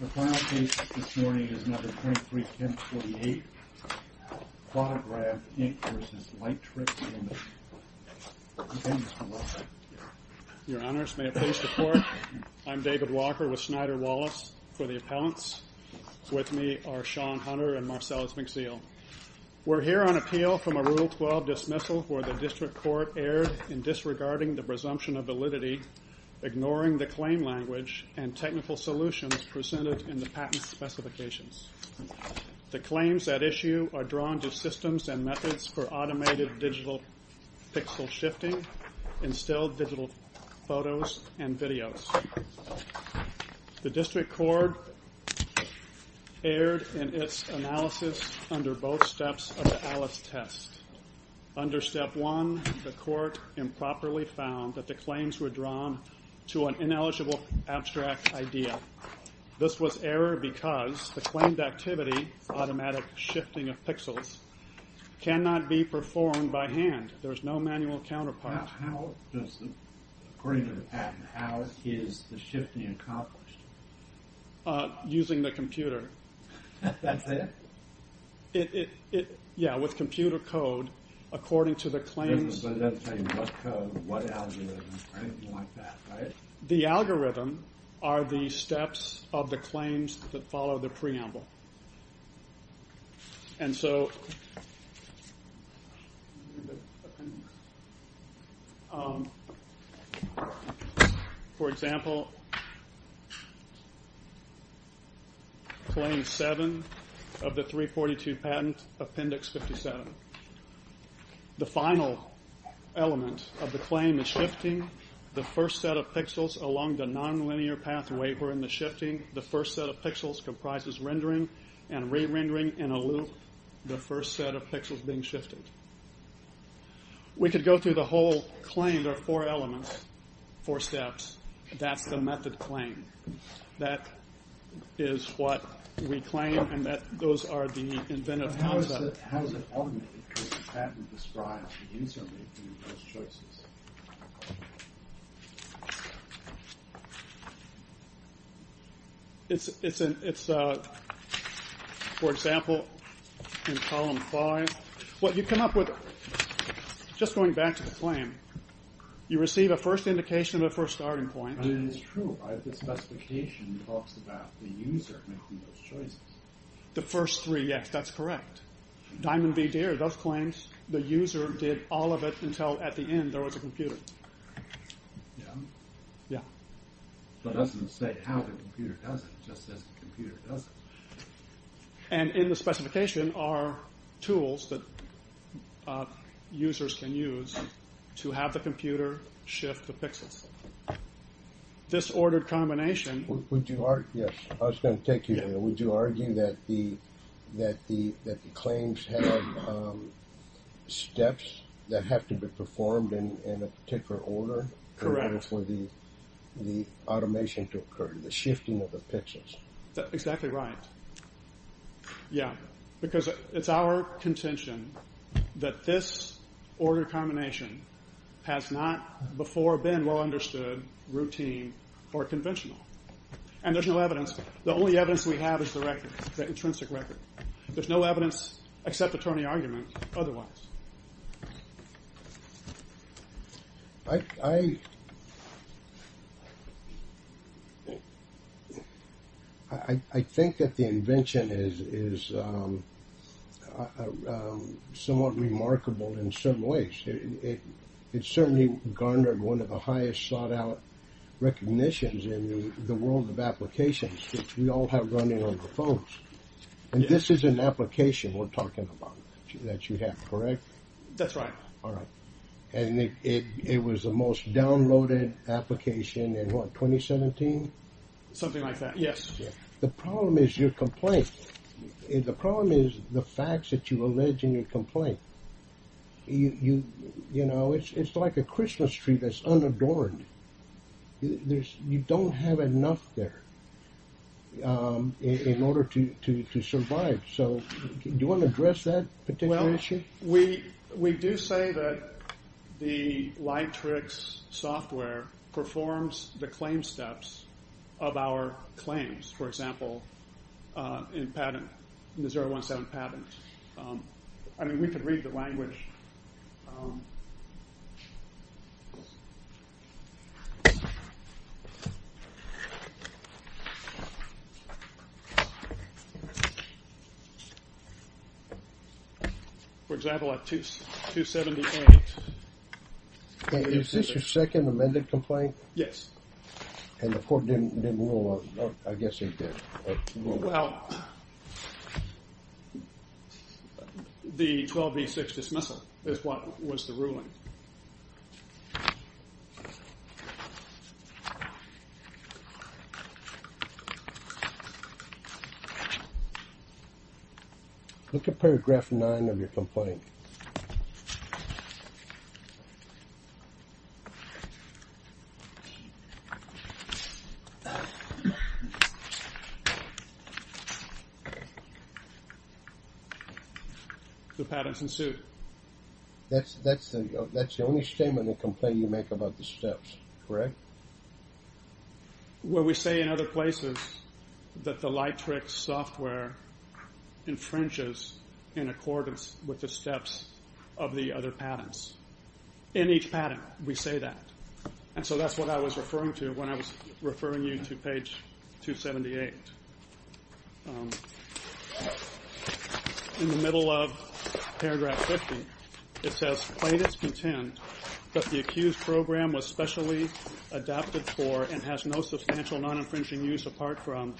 The final case this morning is number 231048, Plotagraph, Inc. v. Lightricks, Ltd. Okay, Mr. Walker. Your Honors, may it please the Court, I'm David Walker with Snyder Wallace for the appellants. With me are Sean Hunter and Marcellus McZeel. We're here on appeal from a Rule 12 dismissal where the District Court erred in disregarding the presumption of validity, ignoring the claim language and technical solutions presented in the patent specifications. The claims at issue are drawn to systems and methods for automated digital pixel shifting, instilled digital photos and videos. The District Court erred in its analysis under both steps of the Alice test. Under Step 1, the Court improperly found that the claims were drawn to an ineligible abstract idea. This was error because the claimed activity, automatic shifting of pixels, cannot be performed by hand. There is no manual counterpart. According to the patent, how is the shifting accomplished? Using the computer. That's it? Yeah, with computer code. According to the claims. The algorithm are the steps of the claims that follow the preamble. For example, claim 7 of the 342 patent, appendix 57. The final element of the claim is shifting the first set of pixels along the nonlinear pathway. We're in the shifting. The first set of pixels comprises rendering and re-rendering in a loop. The first set of pixels being shifted. We could go through the whole claim. There are four elements, four steps. That's the method claim. That is what we claim. And those are the inventive concepts. How is it ultimately that the patent describes the insertion of those choices? It's, for example, in column 5. What you come up with, just going back to the claim. You receive a first indication of a first starting point. The first three, yes, that's correct. Diamond V. Deere does claim the user did all of it until at the end there was a computer. It doesn't say how the computer does it. It just says the computer does it. And in the specification are tools that users can use to have the computer shift the pixels. This ordered combination... I was going to take you there. Would you argue that the claims have steps that have to be performed in a particular order? Correct. In order for the automation to occur, the shifting of the pixels. Exactly right. Yeah, because it's our contention that this ordered combination has not before been well understood, routine, or conventional. And there's no evidence. The only evidence we have is the record, the intrinsic record. There's no evidence except attorney argument otherwise. I think that the invention is somewhat remarkable in certain ways. It certainly garnered one of the highest sought out recognitions in the world of applications, which we all have running on our phones. And this is an application we're talking about that you have, correct? That's right. All right. And it was the most downloaded application in what, 2017? Something like that, yes. The problem is your complaint. The problem is the facts that you allege in your complaint. You know, it's like a Christmas tree that's unadorned. You don't have enough there in order to survive. So do you want to address that particular issue? Well, we do say that the Lightrix software performs the claim steps of our claims. For example, in patent, the 017 patent. I mean, we could read the language. For example, at 278. Is this your second amended complaint? Yes. And the court didn't rule on it? I guess they did. Well, the 12B6 dismissal is what was the ruling. Look at paragraph nine of your complaint. The patent's in suit. That's the only statement in the complaint you make about the steps, correct? Well, we say in other places that the Lightrix software infringes in accordance with the steps of the other patents. In each patent, we say that. And so that's what I was referring to when I was referring you to page 278. In the middle of paragraph 50, it says plaintiffs contend that the accused program was specially adapted for and has no substantial non-infringing use apart from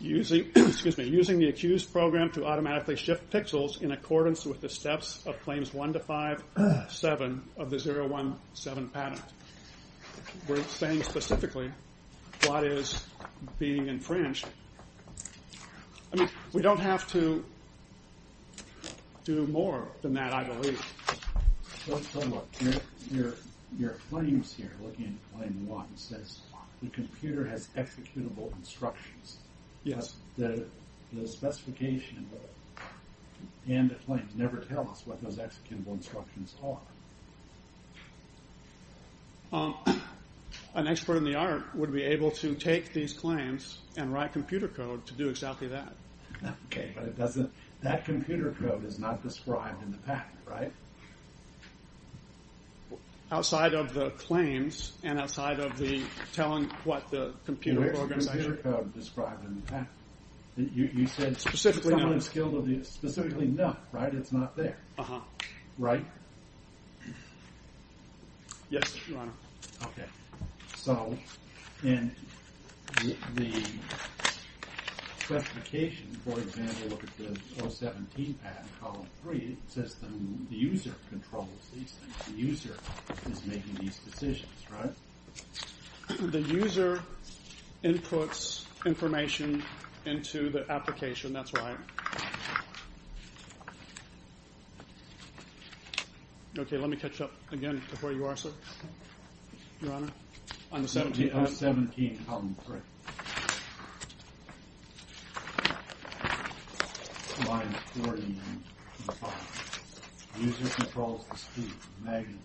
using the accused program to automatically shift pixels in accordance with the steps of claims 1-5-7 of the 017 patent. We're saying specifically what is being infringed. I mean, we don't have to do more than that, I believe. Your claims here, looking at claim one, says the computer has executable instructions. Yes. The specification and the claims never tell us what those executable instructions are. An expert in the art would be able to take these claims and write computer code to do exactly that. Okay, but that computer code is not described in the patent, right? Outside of the claims and outside of the telling what the computer program does. The computer code described in the patent. You said someone is skilled at this. Specifically, no. Specifically, no. Right? It's not there. Right? Yes, Your Honor. Okay. So, in the specification, for example, look at the 017 patent column 3, it says the user controls these things. The user is making these decisions, right? The user inputs information into the application. That's right. Okay, let me catch up again to where you are, sir. Your Honor, on the 017. The 017 column 3. Line 49 to the bottom. The user controls the speed, magnitude,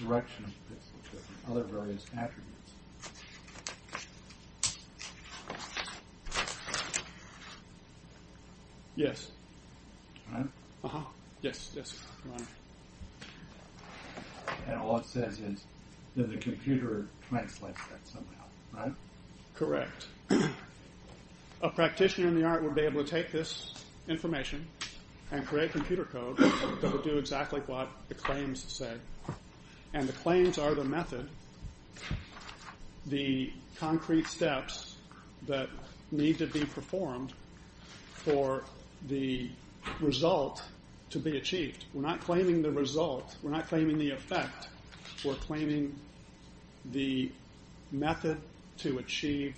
direction of this, and other various attributes. Yes. Right? Uh-huh. Yes, Your Honor. And all it says is that the computer translates that somehow, right? Correct. A practitioner in the art would be able to take this information and create computer code that would do exactly what the claims say. And the claims are the method, the concrete steps that need to be performed for the result to be achieved. We're not claiming the result. We're not claiming the effect. We're claiming the method to achieve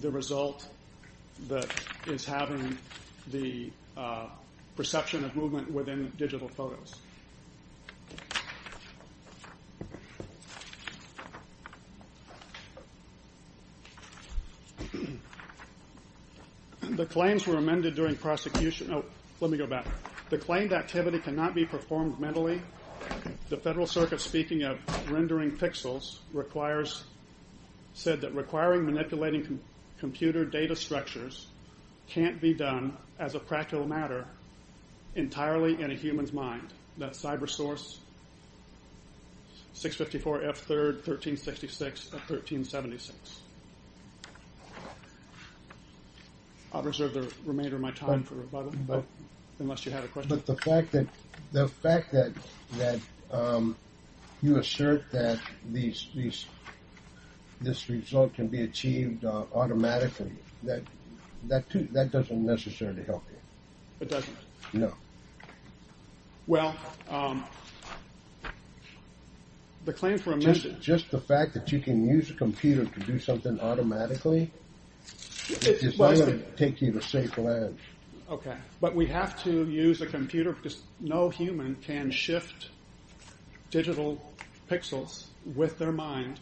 the result that is having the perception of movement within digital photos. The claims were amended during prosecution. Oh, let me go back. The claimed activity cannot be performed mentally. The Federal Circuit, speaking of rendering pixels, said that requiring manipulating computer data structures can't be done as a practical matter entirely in a human's mind. That's CyberSource 654 F3rd 1366 of 1376. I'll reserve the remainder of my time for rebuttal, unless you have a question. But the fact that you assert that this result can be achieved automatically, that doesn't necessarily help you. It doesn't? No. Well, the claims were amended. Just the fact that you can use a computer to do something automatically is not going to take you to safe lands. Okay. But we have to use a computer because no human can shift digital pixels with their mind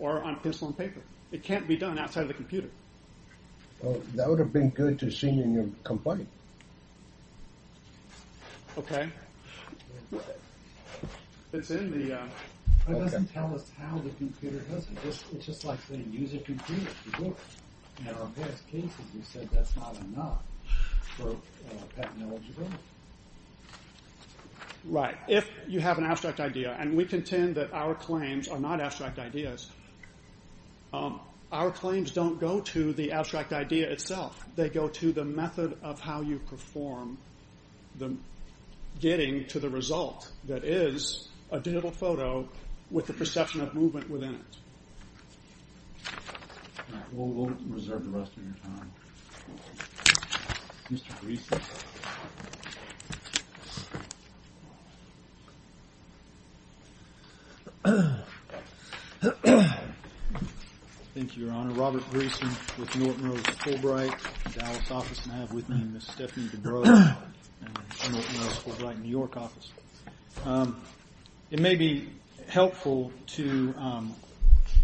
or on pencil and paper. It can't be done outside of the computer. Well, that would have been good to see in your complaint. Okay. It doesn't tell us how the computer does it. It's just like saying use a computer to do it. In our past cases, you said that's not enough for patent-eligible. Right. If you have an abstract idea, and we contend that our claims are not abstract ideas, our claims don't go to the abstract idea itself. They go to the method of how you perform getting to the result that is a digital photo with the perception of movement within it. All right. We'll reserve the rest of your time. Mr. Greeson. Thank you, Your Honor. Robert Greeson with Norton Rose Fulbright, Dallas office. And I have with me Ms. Stephanie DeBrow and Norton Rose Fulbright, New York office. It may be helpful to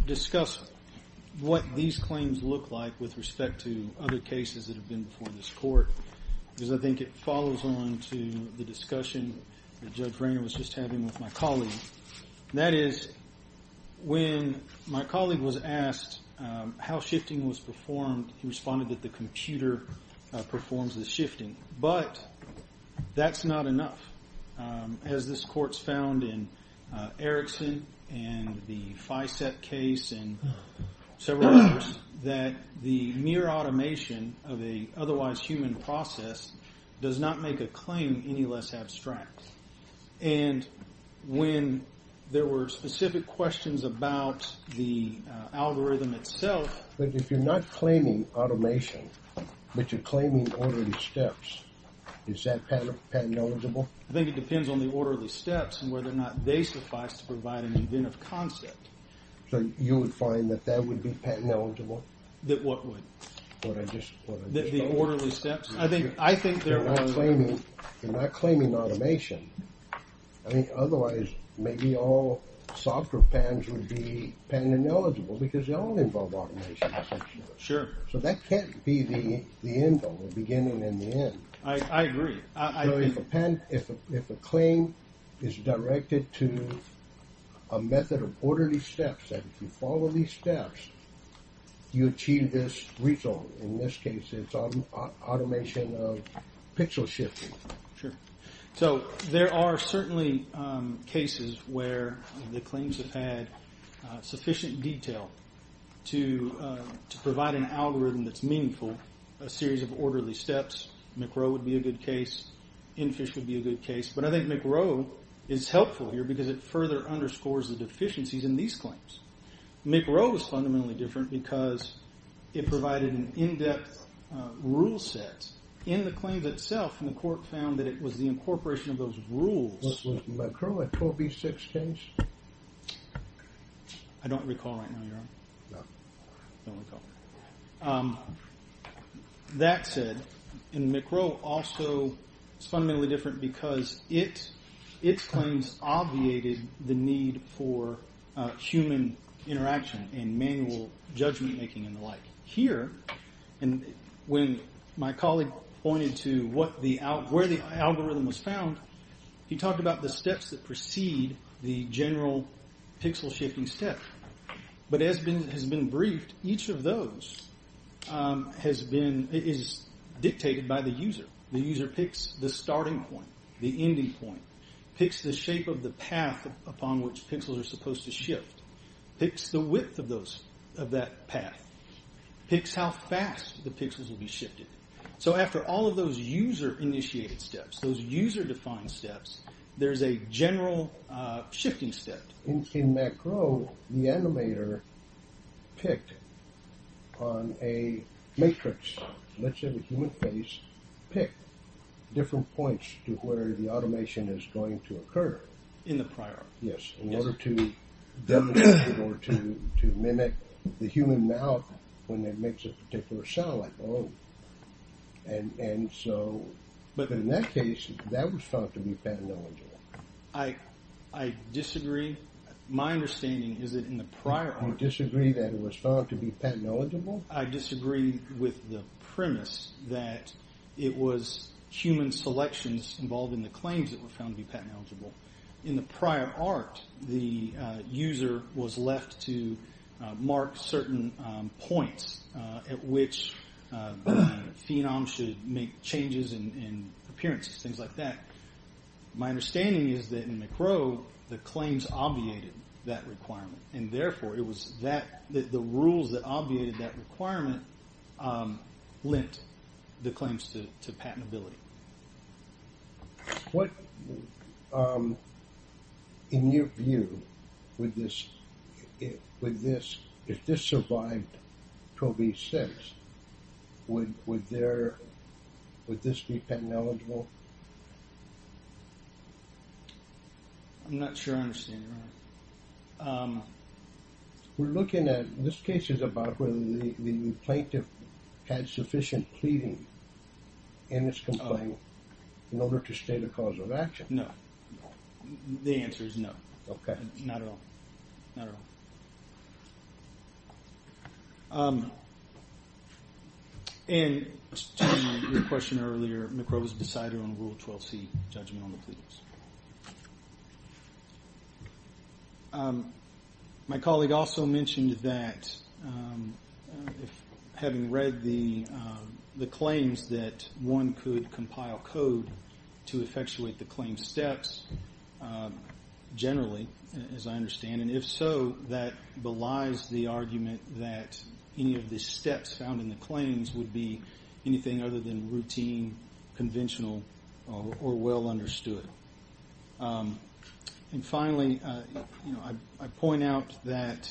discuss what these claims look like with respect to other cases that have been before this court, because I think it follows on to the discussion that Judge Renger was just having with my colleague. That is, when my colleague was asked how shifting was performed, he responded that the computer performs the shifting. But that's not enough. As this court's found in Erickson and the FICET case and several others, that the mere automation of an otherwise human process does not make a claim any less abstract. And when there were specific questions about the algorithm itself. But if you're not claiming automation, but you're claiming orderly steps, is that patent-eligible? I think it depends on the orderly steps and whether or not they suffice to provide an inventive concept. So you would find that that would be patent-eligible? That what would? What I just told you. The orderly steps? I think there are. You're not claiming automation. I mean, otherwise, maybe all software patents would be patent-eligible because they all involve automation. Sure. So that can't be the end all, the beginning and the end. I agree. So if a claim is directed to a method of orderly steps, and if you follow these steps, you achieve this result. In this case, it's automation of pixel shifting. Sure. So there are certainly cases where the claims have had sufficient detail to provide an algorithm that's meaningful, a series of orderly steps. McRow would be a good case. Infish would be a good case. But I think McRow is helpful here because it further underscores the deficiencies in these claims. McRow was fundamentally different because it provided an in-depth rule set. In the claims itself, McCork found that it was the incorporation of those rules. Was McRow a 4B6 case? I don't recall right now, Your Honor. I don't recall. That said, McRow also is fundamentally different because its claims obviated the need for human interaction and manual judgment-making and the like. Here, when my colleague pointed to where the algorithm was found, he talked about the steps that precede the general pixel-shifting step. But as has been briefed, each of those is dictated by the user. The user picks the starting point, the ending point, picks the shape of the path upon which pixels are supposed to shift, picks the width of that path, picks how fast the pixels will be shifted. So after all of those user-initiated steps, those user-defined steps, there's a general shifting step. In McRow, the animator picked on a matrix, let's say the human face, picked different points to where the automation is going to occur. In the prior. Yes, in order to mimic the human mouth when it makes a particular sound, like, oh. But in that case, that was found to be paternological. I disagree. My understanding is that in the prior. You disagree that it was found to be paternological? I disagree with the premise that it was human selections involved in the claims that were found to be paternological. In the prior art, the user was left to mark certain points at which the phenom should make changes in appearances, things like that. My understanding is that in McRow, the claims obviated that requirement. And therefore, it was the rules that obviated that requirement lent the claims to patentability. What, in your view, would this, if this survived Pro B6, would this be patent eligible? I'm not sure I understand you. We're looking at, this case is about whether the plaintiff had sufficient pleading in this complaint in order to state a cause of action. No. The answer is no. Okay. Not at all. Not at all. And to your question earlier, McRow was decided on Rule 12c, judgment on the pleadings. My colleague also mentioned that, having read the claims, that one could compile code to effectuate the claim steps generally, as I understand. And if so, that belies the argument that any of the steps found in the claims would be anything other than routine, conventional, or well understood. And finally, you know, I point out that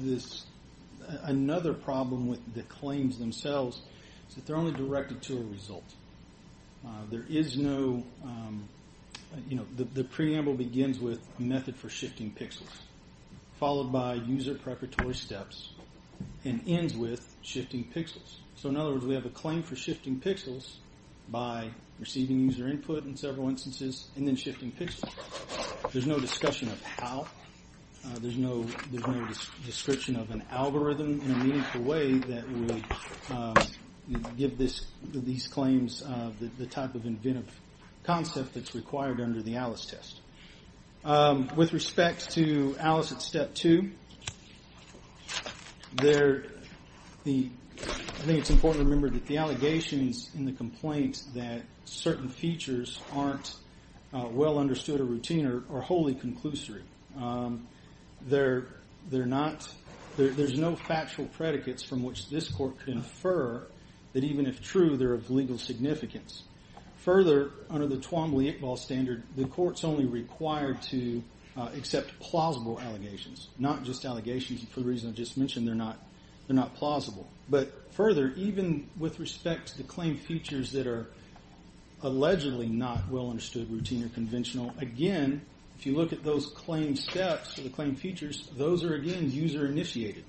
this, another problem with the claims themselves is that they're only directed to a result. There is no, you know, the preamble begins with method for shifting pixels, followed by user preparatory steps, and ends with shifting pixels. So in other words, we have a claim for shifting pixels by receiving user input in several instances, and then shifting pixels. There's no discussion of how. There's no description of an algorithm in a meaningful way that would give these claims the type of inventive concept that's required under the ALICE test. With respect to ALICE at Step 2, I think it's important to remember that the allegations in the complaint that certain features aren't well understood or routine are wholly conclusory. There's no factual predicates from which this court can infer that even if true, they're of legal significance. Further, under the Twombly-Iqbal standard, the court's only required to accept plausible allegations, not just allegations for the reason I just mentioned, they're not plausible. But further, even with respect to the claim features that are allegedly not well understood, routine, or conventional, again, if you look at those claim steps or the claim features, those are, again, user initiated.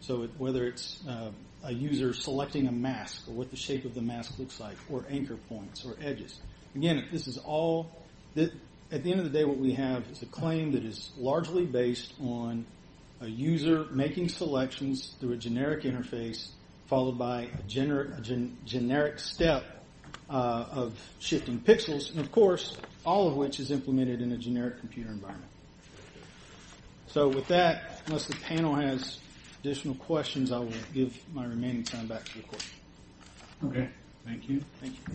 So whether it's a user selecting a mask, or what the shape of the mask looks like, or anchor points, or edges. Again, at the end of the day, what we have is a claim that is largely based on a user making selections through a generic interface, followed by a generic step of shifting pixels, and of course, all of which is implemented in a generic computer environment. So with that, unless the panel has additional questions, I will give my remaining time back to the court. Okay. Thank you. Thank you.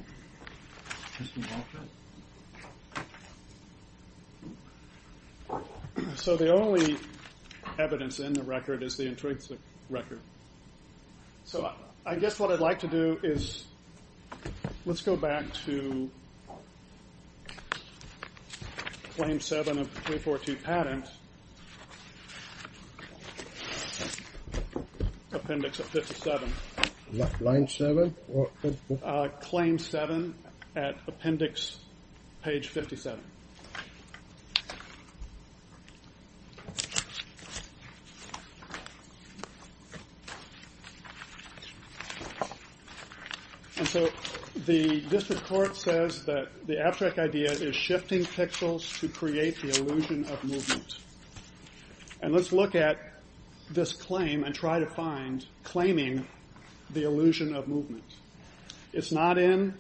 So the only evidence in the record is the intrinsic record. So I guess what I'd like to do is let's go back to Claim 7 of 3.4.2 Patent, Appendix 57. Line 7? Claim 7 at Appendix Page 57. And so this record says that the abstract idea is shifting pixels to create the illusion of movement. And let's look at this claim and try to find claiming the illusion of movement. It's not in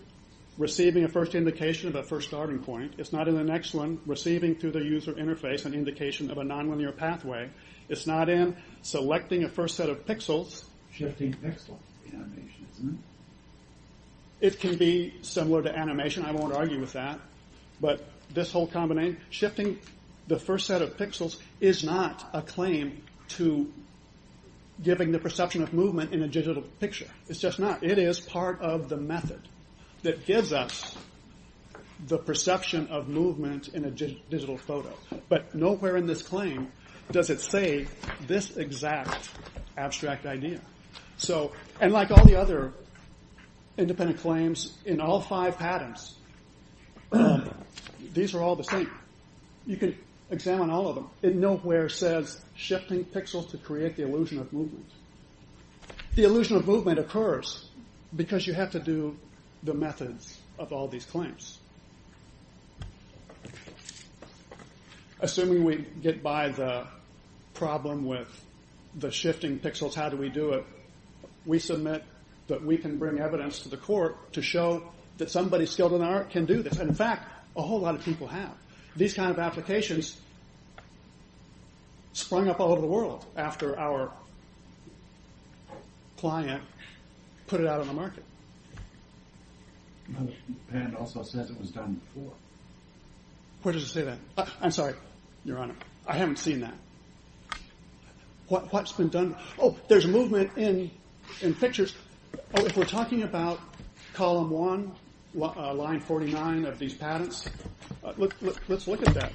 receiving a first indication of a first starting point. It's not in the next one, receiving through the user interface an indication of a nonlinear pathway. It's not in selecting a first set of pixels. Shifting pixels in animation, isn't it? It can be similar to animation. I won't argue with that. But this whole combination, shifting the first set of pixels, is not a claim to giving the perception of movement in a digital picture. It's just not. It is part of the method that gives us the perception of movement in a digital photo. But nowhere in this claim does it say this exact abstract idea. And like all the other independent claims in all five patents, these are all the same. You can examine all of them. It nowhere says shifting pixels to create the illusion of movement. The illusion of movement occurs because you have to do the methods of all these claims. Assuming we get by the problem with the shifting pixels, how do we do it? We submit that we can bring evidence to the court to show that somebody skilled in art can do this. In fact, a whole lot of people have. These kind of applications sprung up all over the world after our client put it out on the market. The other patent also says it was done before. Where does it say that? I'm sorry, Your Honor. I haven't seen that. What's been done? Oh, there's movement in pictures. If we're talking about column one, line 49 of these patents, let's look at that.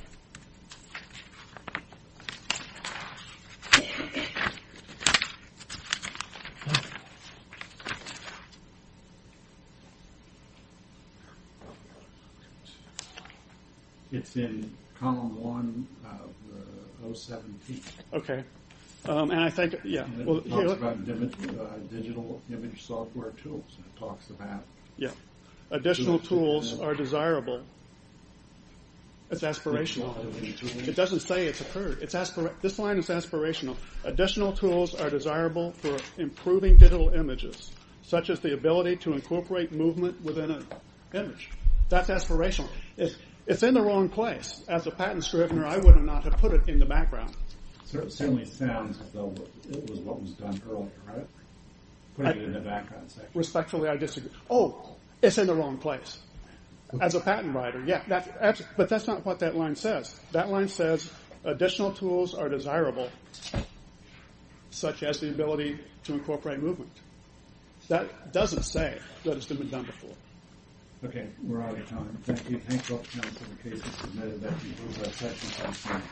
It's in column one of 017. Okay. And I think, yeah. It talks about digital image software tools. It talks about... Yeah. Additional tools are desirable. It's aspirational. It doesn't say it's occurred. This line is aspirational. Additional tools are desirable for improving digital images, such as the ability to incorporate movement within an image. That's aspirational. It's in the wrong place. As a patent scrivener, I would not have put it in the background. It certainly sounds as though it was what was done earlier, right? Putting it in the background section. Respectfully, I disagree. Oh, it's in the wrong place. As a patent writer, yeah. But that's not what that line says. That line says additional tools are desirable, such as the ability to incorporate movement. That doesn't say that it's been done before. Okay. We're out of time. Thank you. Thanks, Dr. Jones, for the case. This is a matter that involves our time.